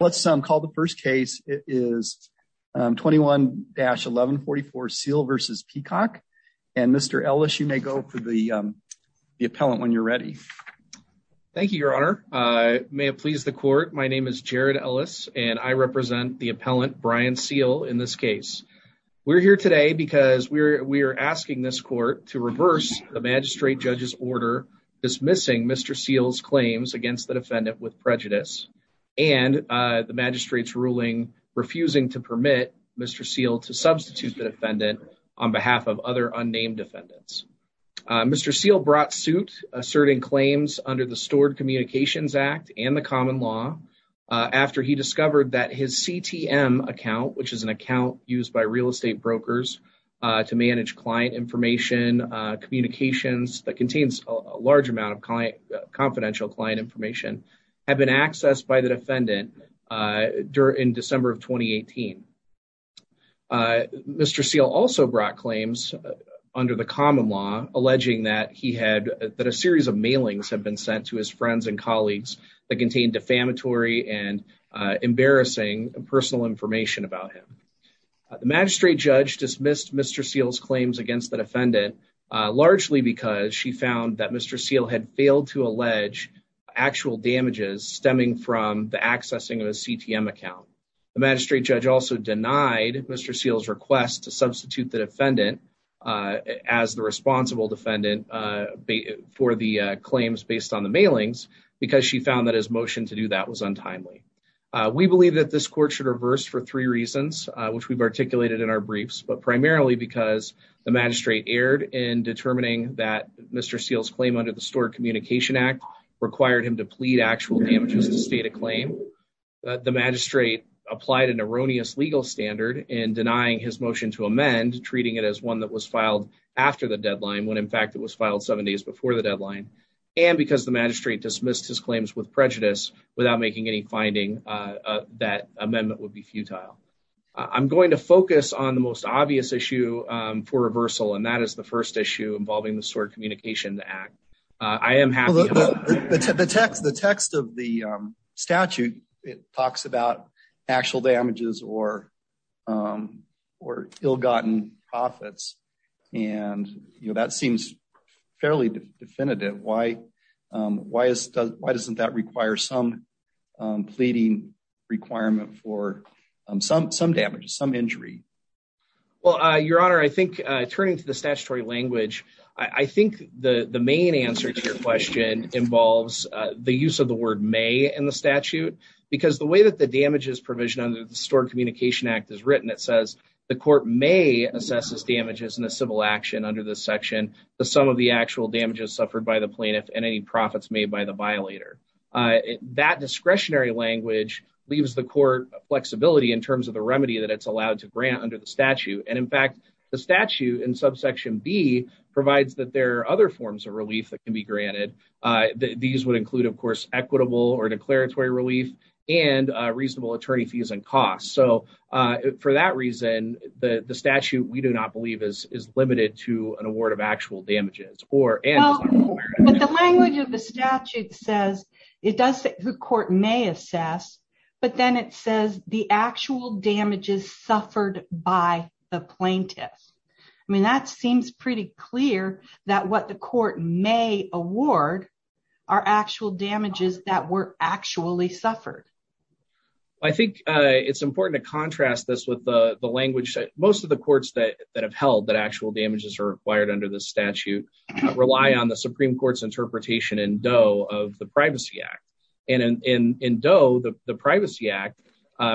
Let's call the first case. It is 21-1144, Seale v. Peacock, and Mr. Ellis, you may go for the appellant when you're ready. Thank you, Your Honor. May it please the court, my name is Jared Ellis, and I represent the appellant, Brian Seale, in this case. We're here today because we are asking this court to reverse the magistrate judge's order dismissing Mr. Seale's claims against the defendant with prejudice and the magistrate's ruling refusing to permit Mr. Seale to substitute the defendant on behalf of other unnamed defendants. Mr. Seale brought suit asserting claims under the Stored Communications Act and the common law after he discovered that his CTM account, which is an account used by real estate brokers to manage client information, communications that contains a large amount of confidential client information, had been accessed by the defendant in December of 2018. Mr. Seale also brought claims under the common law alleging that a series of mailings had been sent to his friends and colleagues that contained defamatory and embarrassing personal information about him. The magistrate judge dismissed Mr. Seale's claims against the defendant largely because she found that Mr. Seale had failed to allege actual damages stemming from the accessing of his CTM account. The magistrate judge also denied Mr. Seale's request to substitute the defendant as the responsible defendant for the claims based on the mailings because she found that his motion to do that was untimely. We believe that this court should reverse for three reasons, which we've articulated in our briefs, but primarily because the magistrate erred in determining that Mr. Seale's claim under the Stored Communication Act required him to plead actual damages in the state of claim, that the magistrate applied an erroneous legal standard in denying his motion to amend, treating it as one that was filed after the deadline when in fact it was filed seven days before the deadline, and because the magistrate dismissed his claims with prejudice without making any finding that amendment would be futile. I'm going to focus on the most obvious issue for reversal, and that is the first issue involving the Stored Communication Act. I am happy to... The text of the statute talks about actual damages or ill-gotten profits, and that seems fairly definitive. Why doesn't that require some pleading requirement for some damages, some injury? Well, Your Honor, I think turning to the statutory language, I think the main answer to your question involves the use of the word may in the statute because the way that the damages provision under the Stored Communication Act is written, it says the court may assess its damages in a civil action under this section. The sum of the actual damages suffered by the plaintiff and any profits made by the violator. That discretionary language leaves the court flexibility in terms of the remedy that it's allowed to grant under the statute, and in fact, the statute in subsection B provides that there are other forms of relief that can be granted. These would include, of course, equitable or declaratory relief and reasonable attorney fees and costs. So for that reason, the statute, we do not believe is limited to an award of actual damages or... Well, but the language of the statute says it does say the court may assess, but then it says the actual damages suffered by the plaintiff. I mean, that seems pretty clear that what the court may award are actual damages that were actually suffered. I think it's important to contrast this with the language that most of the courts that have held that actual damages are required under the statute rely on the Supreme Court's interpretation in DOE of the Privacy Act. And in DOE, the Privacy Act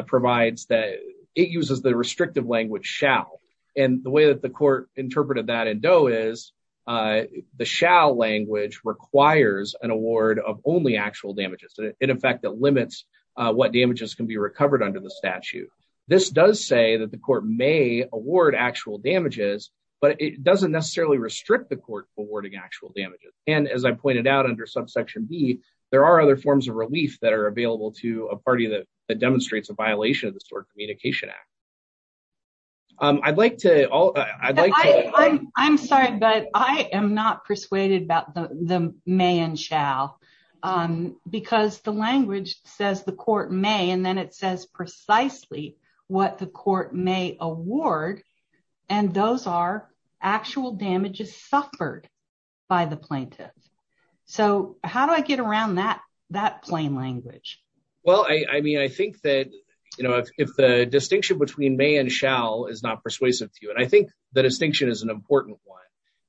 provides that it uses the restrictive language shall. And the way that the court interpreted that in DOE is the shall language requires an what damages can be recovered under the statute. This does say that the court may award actual damages, but it doesn't necessarily restrict the court forwarding actual damages. And as I pointed out under subsection B, there are other forms of relief that are available to a party that demonstrates a violation of the Stored Communication Act. I'd like to... I'm sorry, but I am not persuaded about the may and shall because the language says the court may, and then it says precisely what the court may award. And those are actual damages suffered by the plaintiff. So how do I get around that plain language? Well, I mean, I think that if the distinction between may and shall is not persuasive to you, I think the distinction is an important one,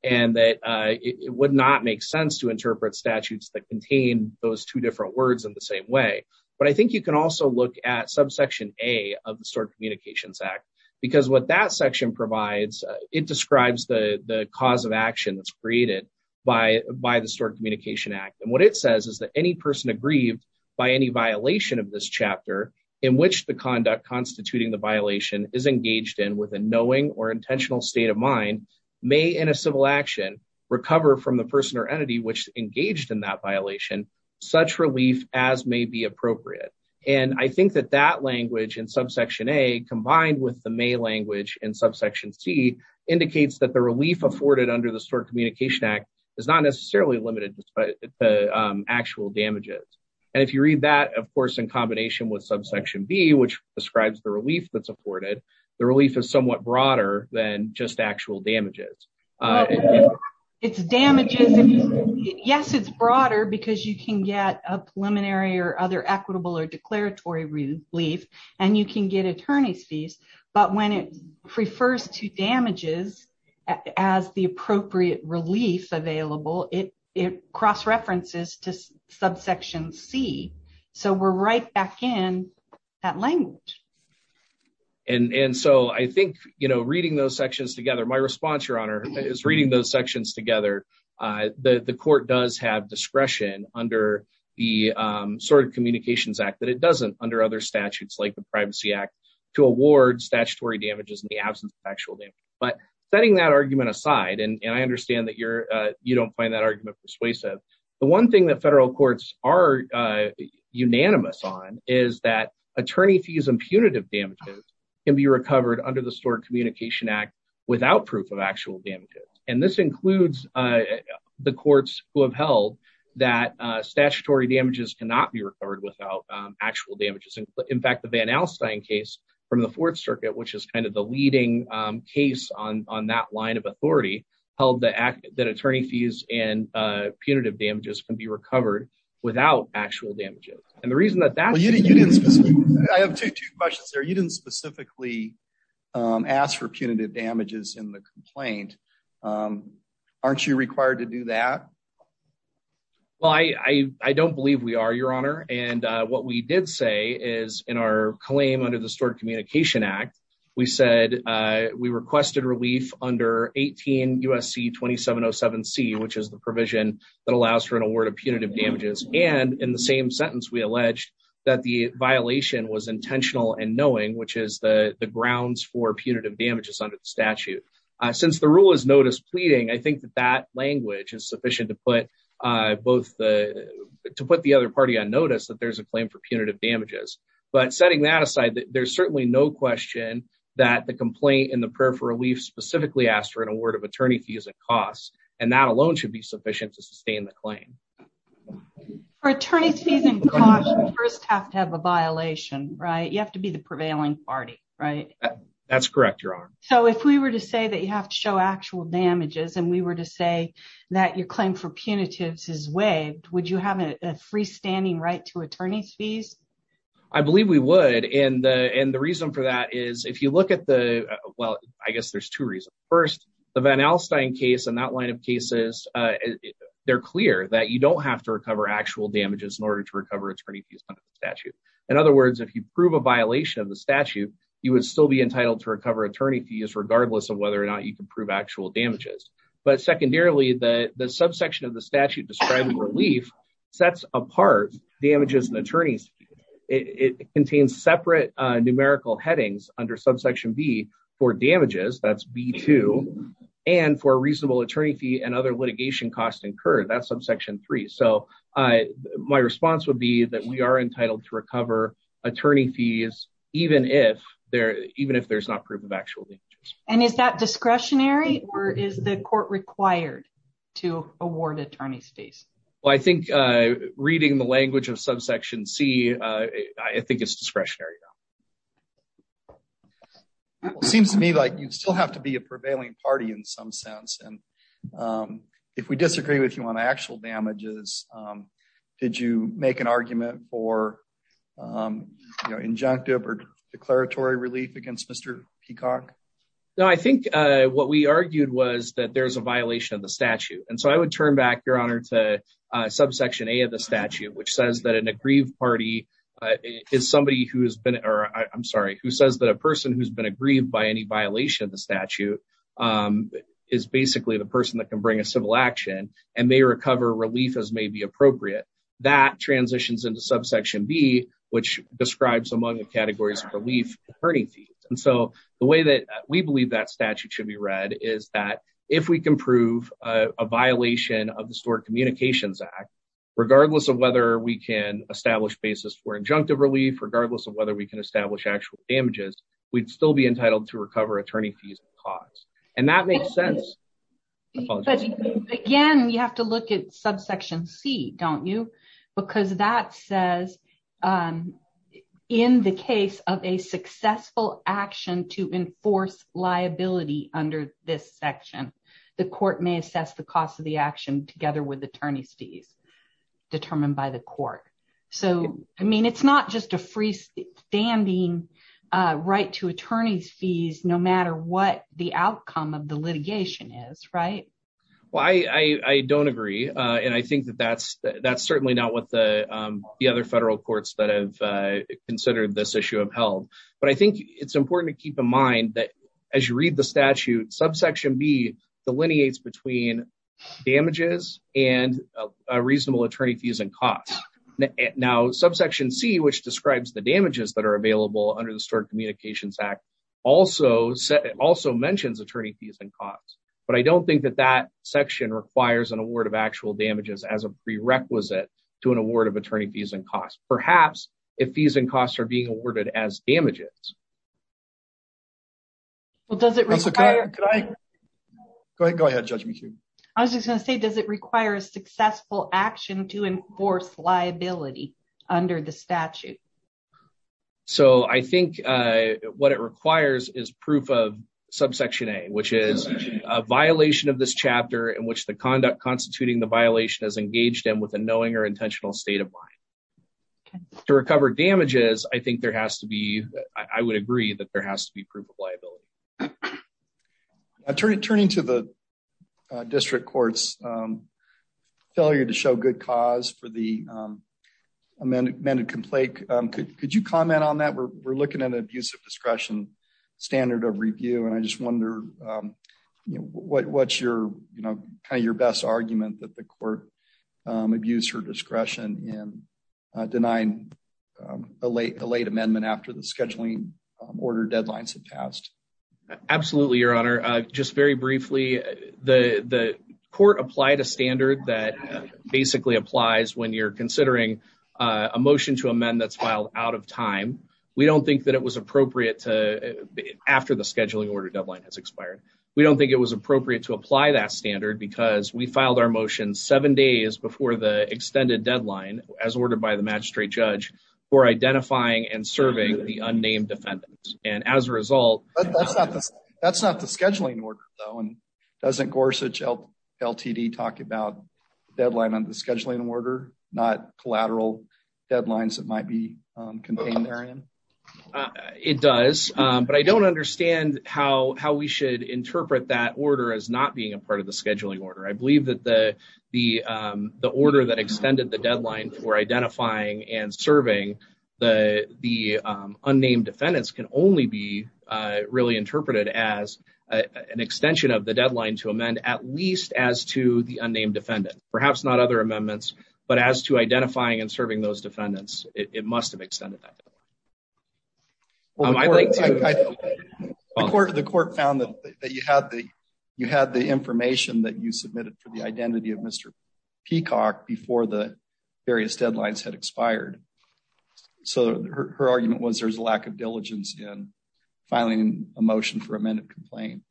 and that it would not make sense to interpret statutes that contain those two different words in the same way. But I think you can also look at subsection A of the Stored Communications Act, because what that section provides, it describes the cause of action that's created by the Stored Communication Act. And what it says is that any person aggrieved by any violation of this chapter in which the conduct constituting the violation is engaged in with a knowing or intentional state of mind, may in a civil action, recover from the person or entity which engaged in that violation, such relief as may be appropriate. And I think that that language in subsection A combined with the may language in subsection C indicates that the relief afforded under the Stored Communication Act is not necessarily limited to actual damages. And if you read that, of course, in combination with subsection B, which describes the relief that's afforded, the relief is somewhat broader than just actual damages. It's damages. Yes, it's broader because you can get a preliminary or other equitable or declaratory relief, and you can get attorney's fees. But when it refers to damages as the appropriate relief available, it cross-references to subsection C. So we're right back in that language. And so I think, you know, reading those sections together, my response, Your Honor, is reading those sections together, the court does have discretion under the Stored Communications Act that it doesn't under other statutes like the Privacy Act to award statutory damages in the absence of actual damage. But setting that argument aside, and I understand that you're, you don't find that argument persuasive. The one thing that federal courts are unanimous on is that attorney fees and punitive damages can be recovered under the Stored Communication Act without proof of actual damages. And this includes the courts who have held that statutory damages cannot be recovered without actual damages. In fact, the Van Alstyne case from the Fourth Circuit, which is kind of the leading case on that line of authority, held that attorney fees and punitive damages can be recovered without actual damages. And the reason that that's I have two questions there. You didn't specifically ask for punitive damages in the complaint. Aren't you required to do that? Well, I don't believe we are, Your Honor. And what we did say is in our claim under the Stored Communication Act, we said we requested relief under 18 USC 2707 C, which is the provision that allows for an award of punitive damages. And in the same we alleged that the violation was intentional and knowing, which is the grounds for punitive damages under the statute. Since the rule is notice pleading, I think that that language is sufficient to put both the, to put the other party on notice that there's a claim for punitive damages. But setting that aside, there's certainly no question that the complaint in the prayer for relief specifically asked for an award of attorney fees and costs, and that alone should be sufficient to sustain the claim. Attorney fees and costs first have to have a violation, right? You have to be the prevailing party, right? That's correct, Your Honor. So if we were to say that you have to show actual damages and we were to say that your claim for punitives is waived, would you have a freestanding right to attorney's fees? I believe we would. And the reason for that is if you look at the well, I guess there's two reasons. First, the Van Alstyne case and that line of cases, they're clear that you don't have to recover actual damages in order to recover attorney fees under the statute. In other words, if you prove a violation of the statute, you would still be entitled to recover attorney fees regardless of whether or not you can prove actual damages. But secondarily, the subsection of the statute describing relief sets apart damages and attorneys. It contains separate numerical headings under subsection B for damages, that's B2, and for a reasonable attorney fee and other litigation costs incurred, that's subsection 3. So my response would be that we are entitled to recover attorney fees even if there's not proof of actual damages. And is that discretionary or is the court required to award attorney fees? Well, I think reading the language of subsection C, I think it's discretionary. It seems to me like you still have to be a prevailing party in some sense. And if we disagree with you on actual damages, did you make an argument for injunctive or declaratory relief against Mr. Peacock? No, I think what we argued was that there's a violation of the statute. And so I would turn back, Your Honor, to subsection A of the statute, which says that an aggrieved party is somebody who I'm sorry, who says that a person who's been aggrieved by any violation of the statute is basically the person that can bring a civil action and may recover relief as may be appropriate. That transitions into subsection B, which describes among the categories of relief, attorney fees. And so the way that we believe that statute should be read is that if we can prove a violation of the Stored Communications Act, regardless of whether we can establish basis for injunctive relief, regardless of whether we can establish actual damages, we'd still be entitled to recover attorney fees and costs. And that makes sense. Again, you have to look at subsection C, don't you? Because that says in the case of a successful action to enforce liability under this section, the court may assess the cost of the action together with attorney's fees determined by the court. So, I mean, it's not just a freestanding right to attorney's fees, no matter what the outcome of the litigation is, right? Well, I don't agree. And I think that that's certainly not what the other federal courts that have considered this issue have held. But I think it's important to keep in mind that as you read the statute, subsection B delineates between damages and a reasonable attorney fees and costs. Now, subsection C, which describes the damages that are available under the Stored Communications Act, also mentions attorney fees and costs. But I don't think that that section requires an award of actual damages as a prerequisite to an award of attorney fees and costs. I was just going to say, does it require a successful action to enforce liability under the statute? So, I think what it requires is proof of subsection A, which is a violation of this chapter in which the conduct constituting the violation is engaged in with a knowing or intentional state of mind. To recover damages, I think there has to be, I would agree that there is. Turning to the district court's failure to show good cause for the amended complaint, could you comment on that? We're looking at an abuse of discretion standard of review, and I just wonder what's kind of your best argument that the court abused her discretion in Absolutely, Your Honor. Just very briefly, the court applied a standard that basically applies when you're considering a motion to amend that's filed out of time. We don't think that it was appropriate after the scheduling order deadline has expired. We don't think it was appropriate to apply that standard because we filed our motion seven days before the extended deadline, as ordered by the magistrate judge, for identifying and serving the unnamed defendant. And as a result... That's not the scheduling order though, and doesn't Gorsuch LTD talk about deadline on the scheduling order, not collateral deadlines that might be contained therein? It does, but I don't understand how we should interpret that order as not being a part of the scheduling order. I believe that the order that extended the deadline for identifying and only be really interpreted as an extension of the deadline to amend at least as to the unnamed defendant. Perhaps not other amendments, but as to identifying and serving those defendants, it must have extended that deadline. The court found that you had the information that you submitted for the identity of Mr. Peacock before the various deadlines had expired. So her argument was there's a lack of diligence in filing a motion for amended complaint.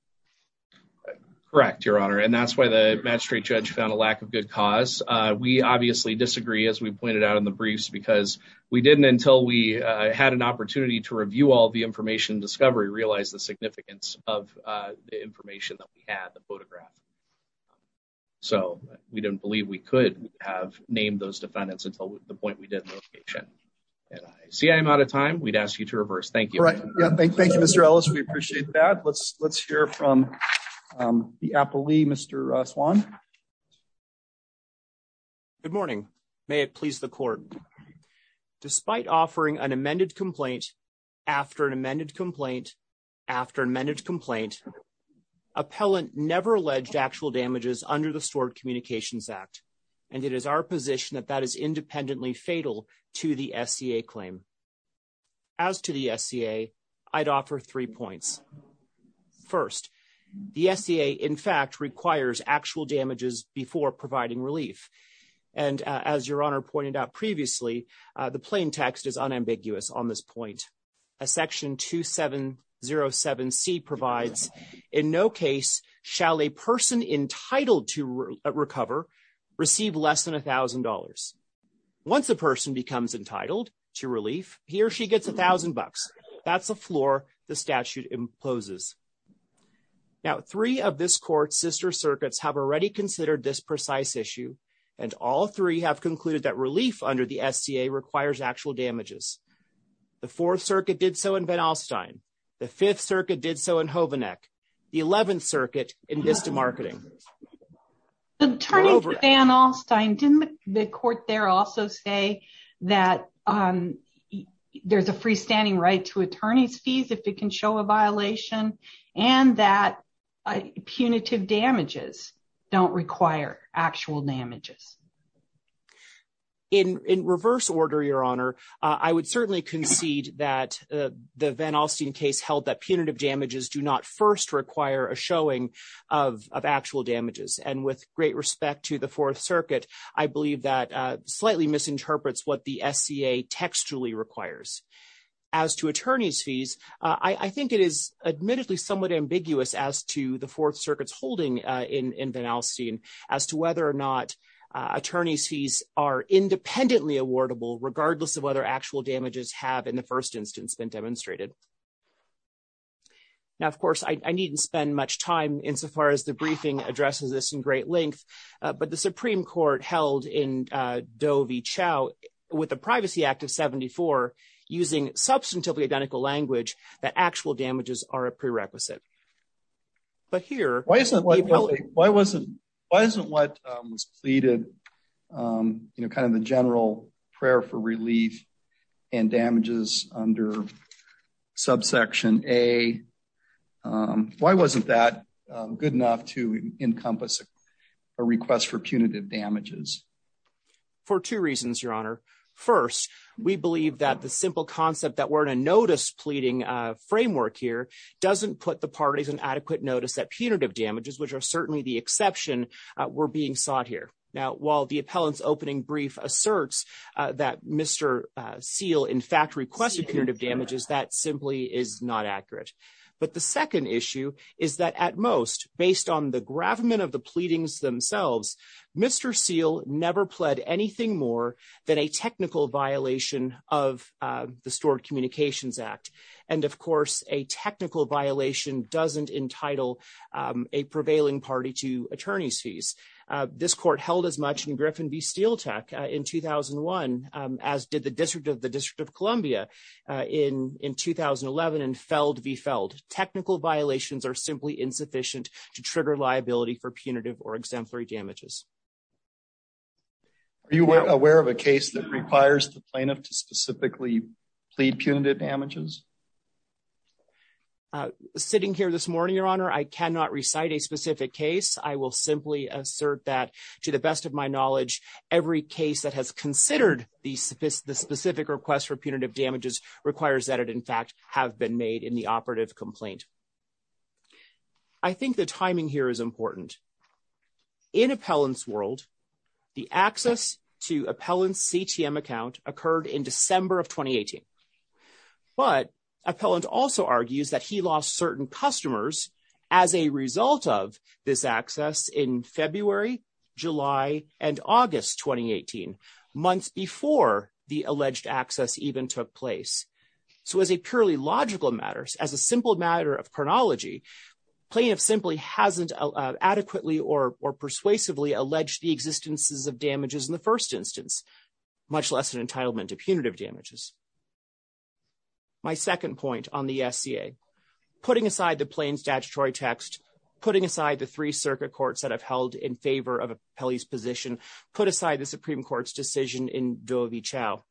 Correct, Your Honor, and that's why the magistrate judge found a lack of good cause. We obviously disagree, as we pointed out in the briefs, because we didn't, until we had an opportunity to review all the information discovery, realize the significance of the information that we had, the photograph. So we didn't believe we could have named those defendants until the point that we did the location. See, I'm out of time. We'd ask you to reverse. Thank you. Right. Thank you, Mr. Ellis. We appreciate that. Let's hear from the appellee, Mr. Swan. Good morning. May it please the court. Despite offering an amended complaint, after an amended complaint, after an amended complaint, appellant never alleged actual damages under the Stored Communications Act, and it is our position that that is independently fatal to the SCA claim. As to the SCA, I'd offer three points. First, the SCA, in fact, requires actual damages before providing relief. And as Your Honor pointed out previously, the plain text is unambiguous on this point. Section 2707C provides, in no case shall a person entitled to recover receive less than $1,000. Once a person becomes entitled to relief, he or she gets $1,000. That's the floor the statute imposes. Now, three of this court's sister circuits have already considered this precise issue, and all three have concluded that relief under the SCA requires actual damages. The Fourth Circuit did so in Van Alstyne. The Eleventh Circuit in Vista Marketing. Attorney for Van Alstyne, didn't the court there also say that there's a freestanding right to attorney's fees if it can show a violation, and that punitive damages don't require actual damages? In reverse order, Your Honor, I would certainly concede that the Van Alstyne case held that punitive damages do not first require a showing of actual damages. And with great respect to the Fourth Circuit, I believe that slightly misinterprets what the SCA textually requires. As to attorney's fees, I think it is admittedly somewhat ambiguous as to the Fourth Circuit's holding in Van Alstyne, as to whether or not in the first instance been demonstrated. Now, of course, I needn't spend much time insofar as the briefing addresses this in great length, but the Supreme Court held in Doe v. Chau, with the Privacy Act of 74, using substantively identical language, that actual damages are a prerequisite. But here... Why isn't what was pleaded, you know, kind of the general prayer for relief and damages under subsection A, why wasn't that good enough to encompass a request for punitive damages? For two reasons, Your Honor. First, we believe that the simple concept that we're in a notice pleading framework here doesn't put the parties in adequate notice that punitive damages, which are certainly the exception, were being sought here. Now, while the appellant's opening brief asserts that Mr. Seale in fact requested punitive damages, that simply is not accurate. But the second issue is that at most, based on the gravamen of the pleadings themselves, Mr. Seale never pled anything more than a technical violation of the Stored Communications Act. And of course, a technical violation doesn't entitle a prevailing party to attorney's fees. This court held as much in Griffin v. SteelTech in 2001, as did the District of Columbia in 2011, and Feld v. Feld. Technical violations are simply insufficient to trigger liability for punitive or exemplary damages. Are you aware of a case that requires the plaintiff to specifically plead punitive damages? Sitting here this morning, Your Honor, I cannot recite a specific case. I will simply assert that, to the best of my knowledge, every case that has considered the specific request for punitive damages requires that it in fact have been made in the operative complaint. I think the timing here is important. In appellant's world, the access to appellant's CTM account occurred in December of 2018. But appellant also argues that he lost certain customers as a result of this access in February, July, and August 2018, months before the alleged access even took place. So as a purely logical matter, as a simple matter of chronology, plaintiff simply hasn't adequately or persuasively alleged the existences of damages in the first instance, much less an entitlement to punitive damages. My second point on the SCA, putting aside the plain statutory text, putting aside the three circuit courts that have held in favor of appellee's position, put aside the Supreme Court's decision in Doe v. Chau,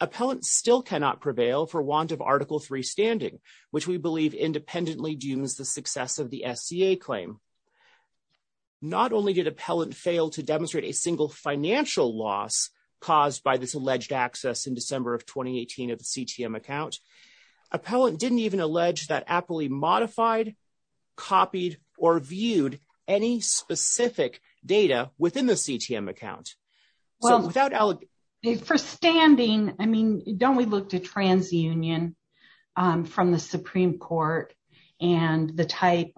appellant still cannot prevail for want of Article 3 standing, which we believe independently dooms the success of the SCA claim. Not only did appellant fail to demonstrate a single financial loss caused by this alleged access in December of 2018 of the CTM account, appellant didn't even allege that appellee modified, copied, or viewed any specific data within the CTM account. Well, for standing, I mean, don't we look to transunion from the Supreme Court and the type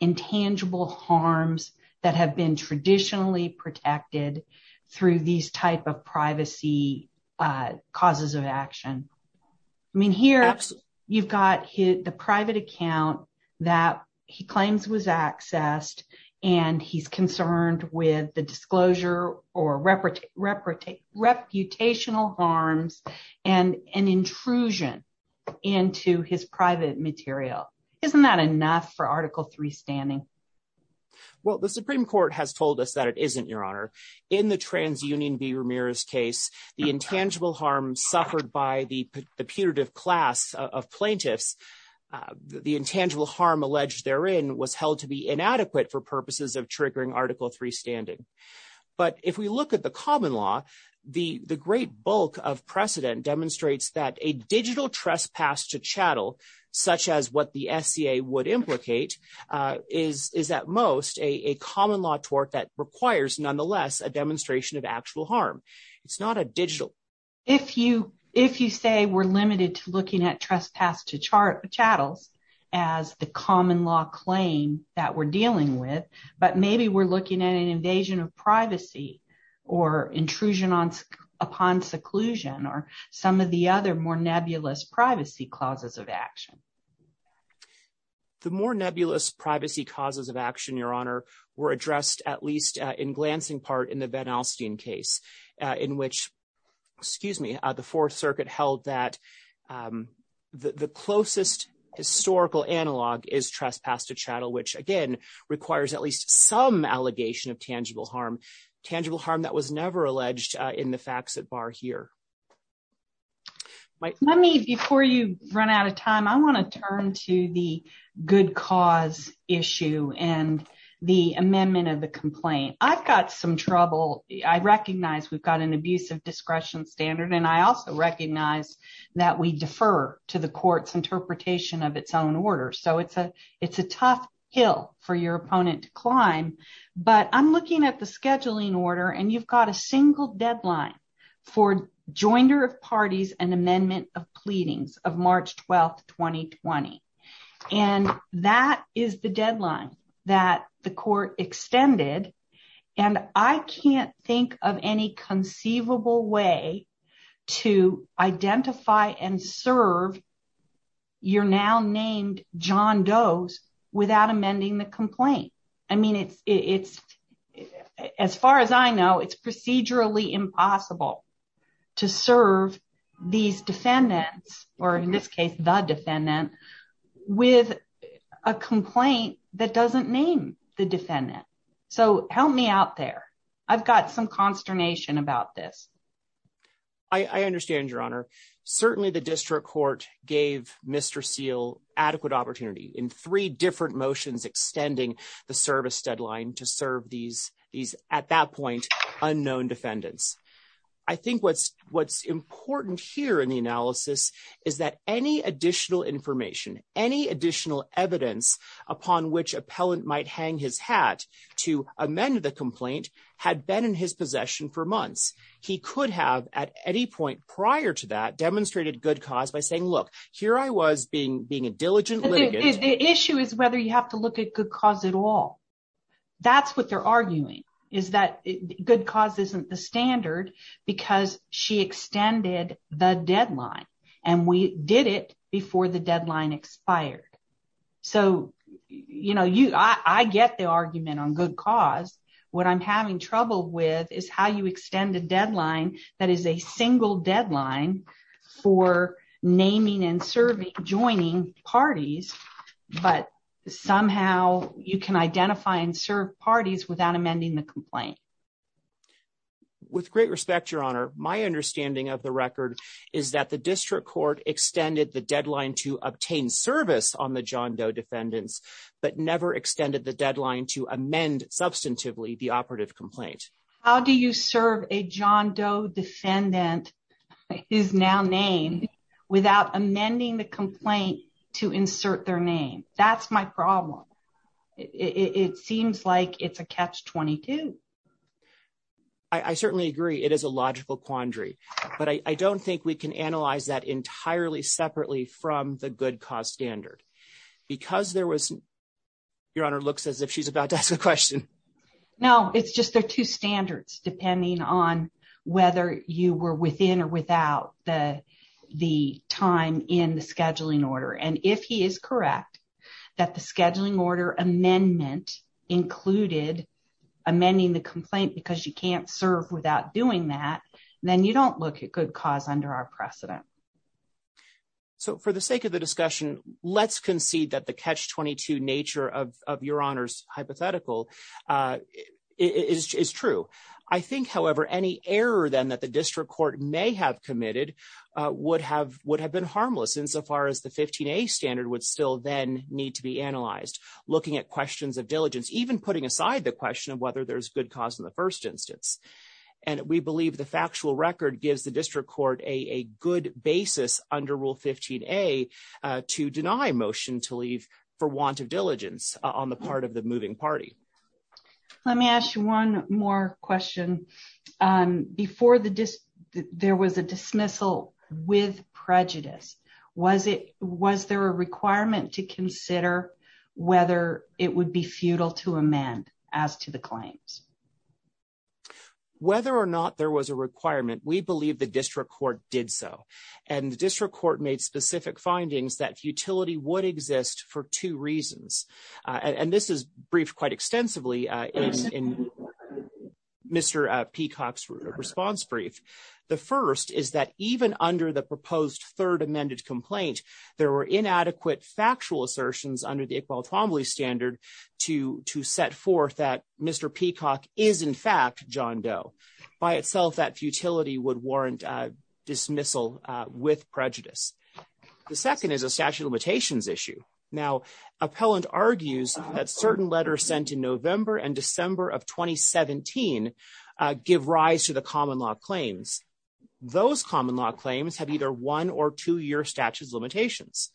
intangible harms that have been traditionally protected through these type of privacy causes of action? I mean, here you've got the private account that he claims was accessed, and he's concerned with the disclosure or reputational harms and an intrusion into his private material. Isn't that enough for Article 3 standing? Well, the Supreme Court has told us that it isn't, Your Honor. In the transunion v. Ramirez case, the intangible harm suffered by the putative class of plaintiffs, the intangible harm alleged therein was held to be inadequate for purposes of triggering Article 3 standing. But if we look the common law, the great bulk of precedent demonstrates that a digital trespass to chattel, such as what the SCA would implicate, is at most a common law tort that requires nonetheless a demonstration of actual harm. It's not a digital. If you say we're limited to looking at trespass to chattels as the common law claim that we're dealing with, but maybe we're looking at an invasion of privacy or intrusion upon seclusion or some of the other more nebulous privacy causes of action. The more nebulous privacy causes of action, Your Honor, were addressed at least in glancing part in the Van Alstyne case, in which, excuse me, the Fourth Circuit held that the closest historical analog is trespass to chattel, which again requires at least some allegation of tangible harm, tangible harm that was never alleged in the facts at bar here. Let me, before you run out of time, I want to turn to the good cause issue and the amendment of the complaint. I've got some trouble. I recognize we've got an abusive discretion standard, and I also recognize that we defer to the court's hill for your opponent to climb, but I'm looking at the scheduling order, and you've got a single deadline for joinder of parties and amendment of pleadings of March 12, 2020. And that is the deadline that the court extended, and I can't think of any conceivable way to identify and serve your now-named John Does without amending the complaint. I mean, as far as I know, it's procedurally impossible to serve these defendants, or in this case, the defendant, with a complaint that doesn't name the defendant. So help me out there. I've got some consternation about this. I understand, Your Honor. Certainly the district court gave Mr. Seale adequate opportunity in three different motions extending the service deadline to serve these, at that point, unknown defendants. I think what's important here in the analysis is that any additional information, any additional evidence upon which appellant might hang his hat to amend the complaint had been in his possession for months. He could have at any point prior to that demonstrated good cause by saying, look, here I was being a diligent litigant. The issue is whether you have to look at good cause at all. That's what they're arguing, is that good cause isn't the standard because she extended the deadline, and we did it before the deadline expired. So I get the argument on good cause. What I'm having trouble with is how you extend a deadline that is a single deadline for naming and serving, joining parties, but somehow you can identify and serve parties without amending the complaint. With great respect, Your Honor, my understanding of the record is that the district court extended the deadline to obtain service on the John Doe defendants, but never extended the deadline to amend substantively the operative complaint. How do you serve a John Doe defendant, his now name, without amending the complaint to insert their name? That's my problem. It seems like it's a catch-22. I certainly agree it is a logical quandary, but I don't think we can analyze that entirely separately from the good cause standard. Your Honor looks as if she's about to ask a question. No, it's just there are two standards depending on whether you were within or without the time in the scheduling order. If he is correct that the scheduling order amendment included amending the complaint because you can't serve without doing that, then you don't look at good cause under our precedent. For the sake of the discussion, let's concede that the catch-22 nature of Your Honor's hypothetical is true. I think, however, any error then that the district court may have committed would have been harmless insofar as the 15A standard would still then need to be analyzed, looking at questions of diligence, even putting aside the question of whether there's good cause in the first instance. We believe the factual record gives the district court a good basis under Rule 15A to deny a motion to leave for want of diligence on the part of the moving party. Let me ask you one more question. Before there was a dismissal with prejudice, was there a requirement to consider whether it would be futile to amend as to the claims? Whether or not there was a requirement, we believe the district court did so, and the district court made specific findings that futility would exist for two reasons, and this is briefed quite extensively in Mr. Peacock's response brief. The first is that even under the proposed third amended complaint, there were inadequate factual assertions under the standard to set forth that Mr. Peacock is, in fact, John Doe. By itself, that futility would warrant dismissal with prejudice. The second is a statute of limitations issue. Now, appellant argues that certain letters sent in November and December of 2017 give rise to the common law claims. Those common law claims have either one or two-year statute of limitations.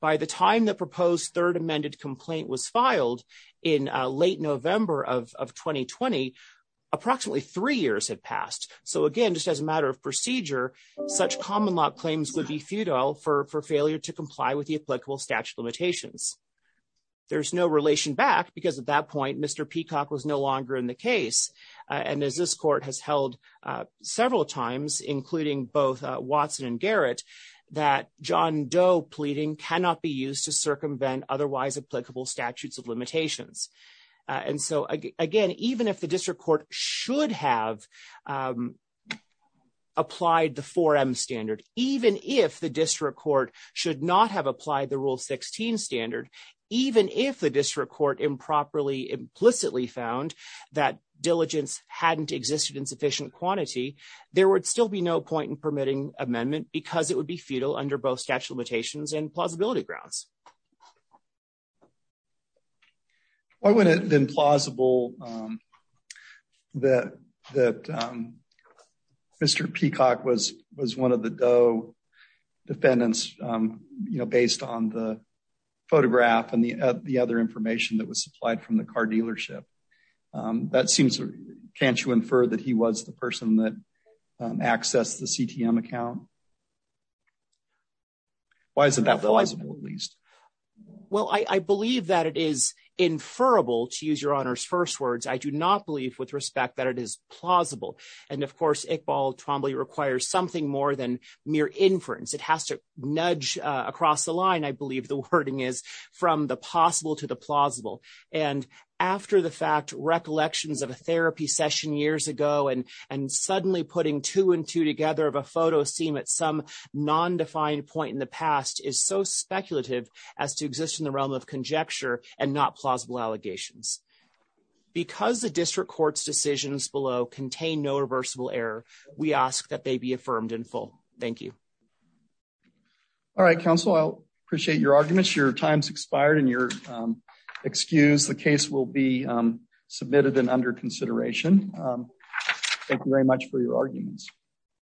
By the time proposed third amended complaint was filed in late November of 2020, approximately three years had passed. So, again, just as a matter of procedure, such common law claims would be futile for failure to comply with the applicable statute of limitations. There's no relation back because at that point, Mr. Peacock was no longer in the case, and as this court has held several times, including both Watson and Garrett, that John Doe pleading cannot be used to circumvent otherwise applicable statutes of limitations. And so, again, even if the district court should have applied the 4M standard, even if the district court should not have applied the Rule 16 standard, even if the district court improperly, implicitly found that diligence hadn't existed in sufficient quantity, there would still be no point in permitting amendment because it would be futile under both statute of limitations and plausibility grounds. Why wouldn't it have been plausible that Mr. Peacock was one of the Doe defendants, you know, based on the photograph and the other information that was supplied from the car that access the CTM account? Why isn't that plausible, at least? Well, I believe that it is inferable, to use your honor's first words. I do not believe with respect that it is plausible. And of course, Iqbal Twombly requires something more than mere inference. It has to nudge across the line, I believe the wording is, from the possible to the plausible. And after the fact, recollections of a therapy session years ago and suddenly putting two and two together of a photo scene at some non-defined point in the past is so speculative as to exist in the realm of conjecture and not plausible allegations. Because the district court's decisions below contain no reversible error, we ask that they be affirmed in full. Thank you. All right, counsel, I appreciate your arguments. Your time's expired and you're excused. The case will be submitted and under consideration. Thank you very much for your arguments.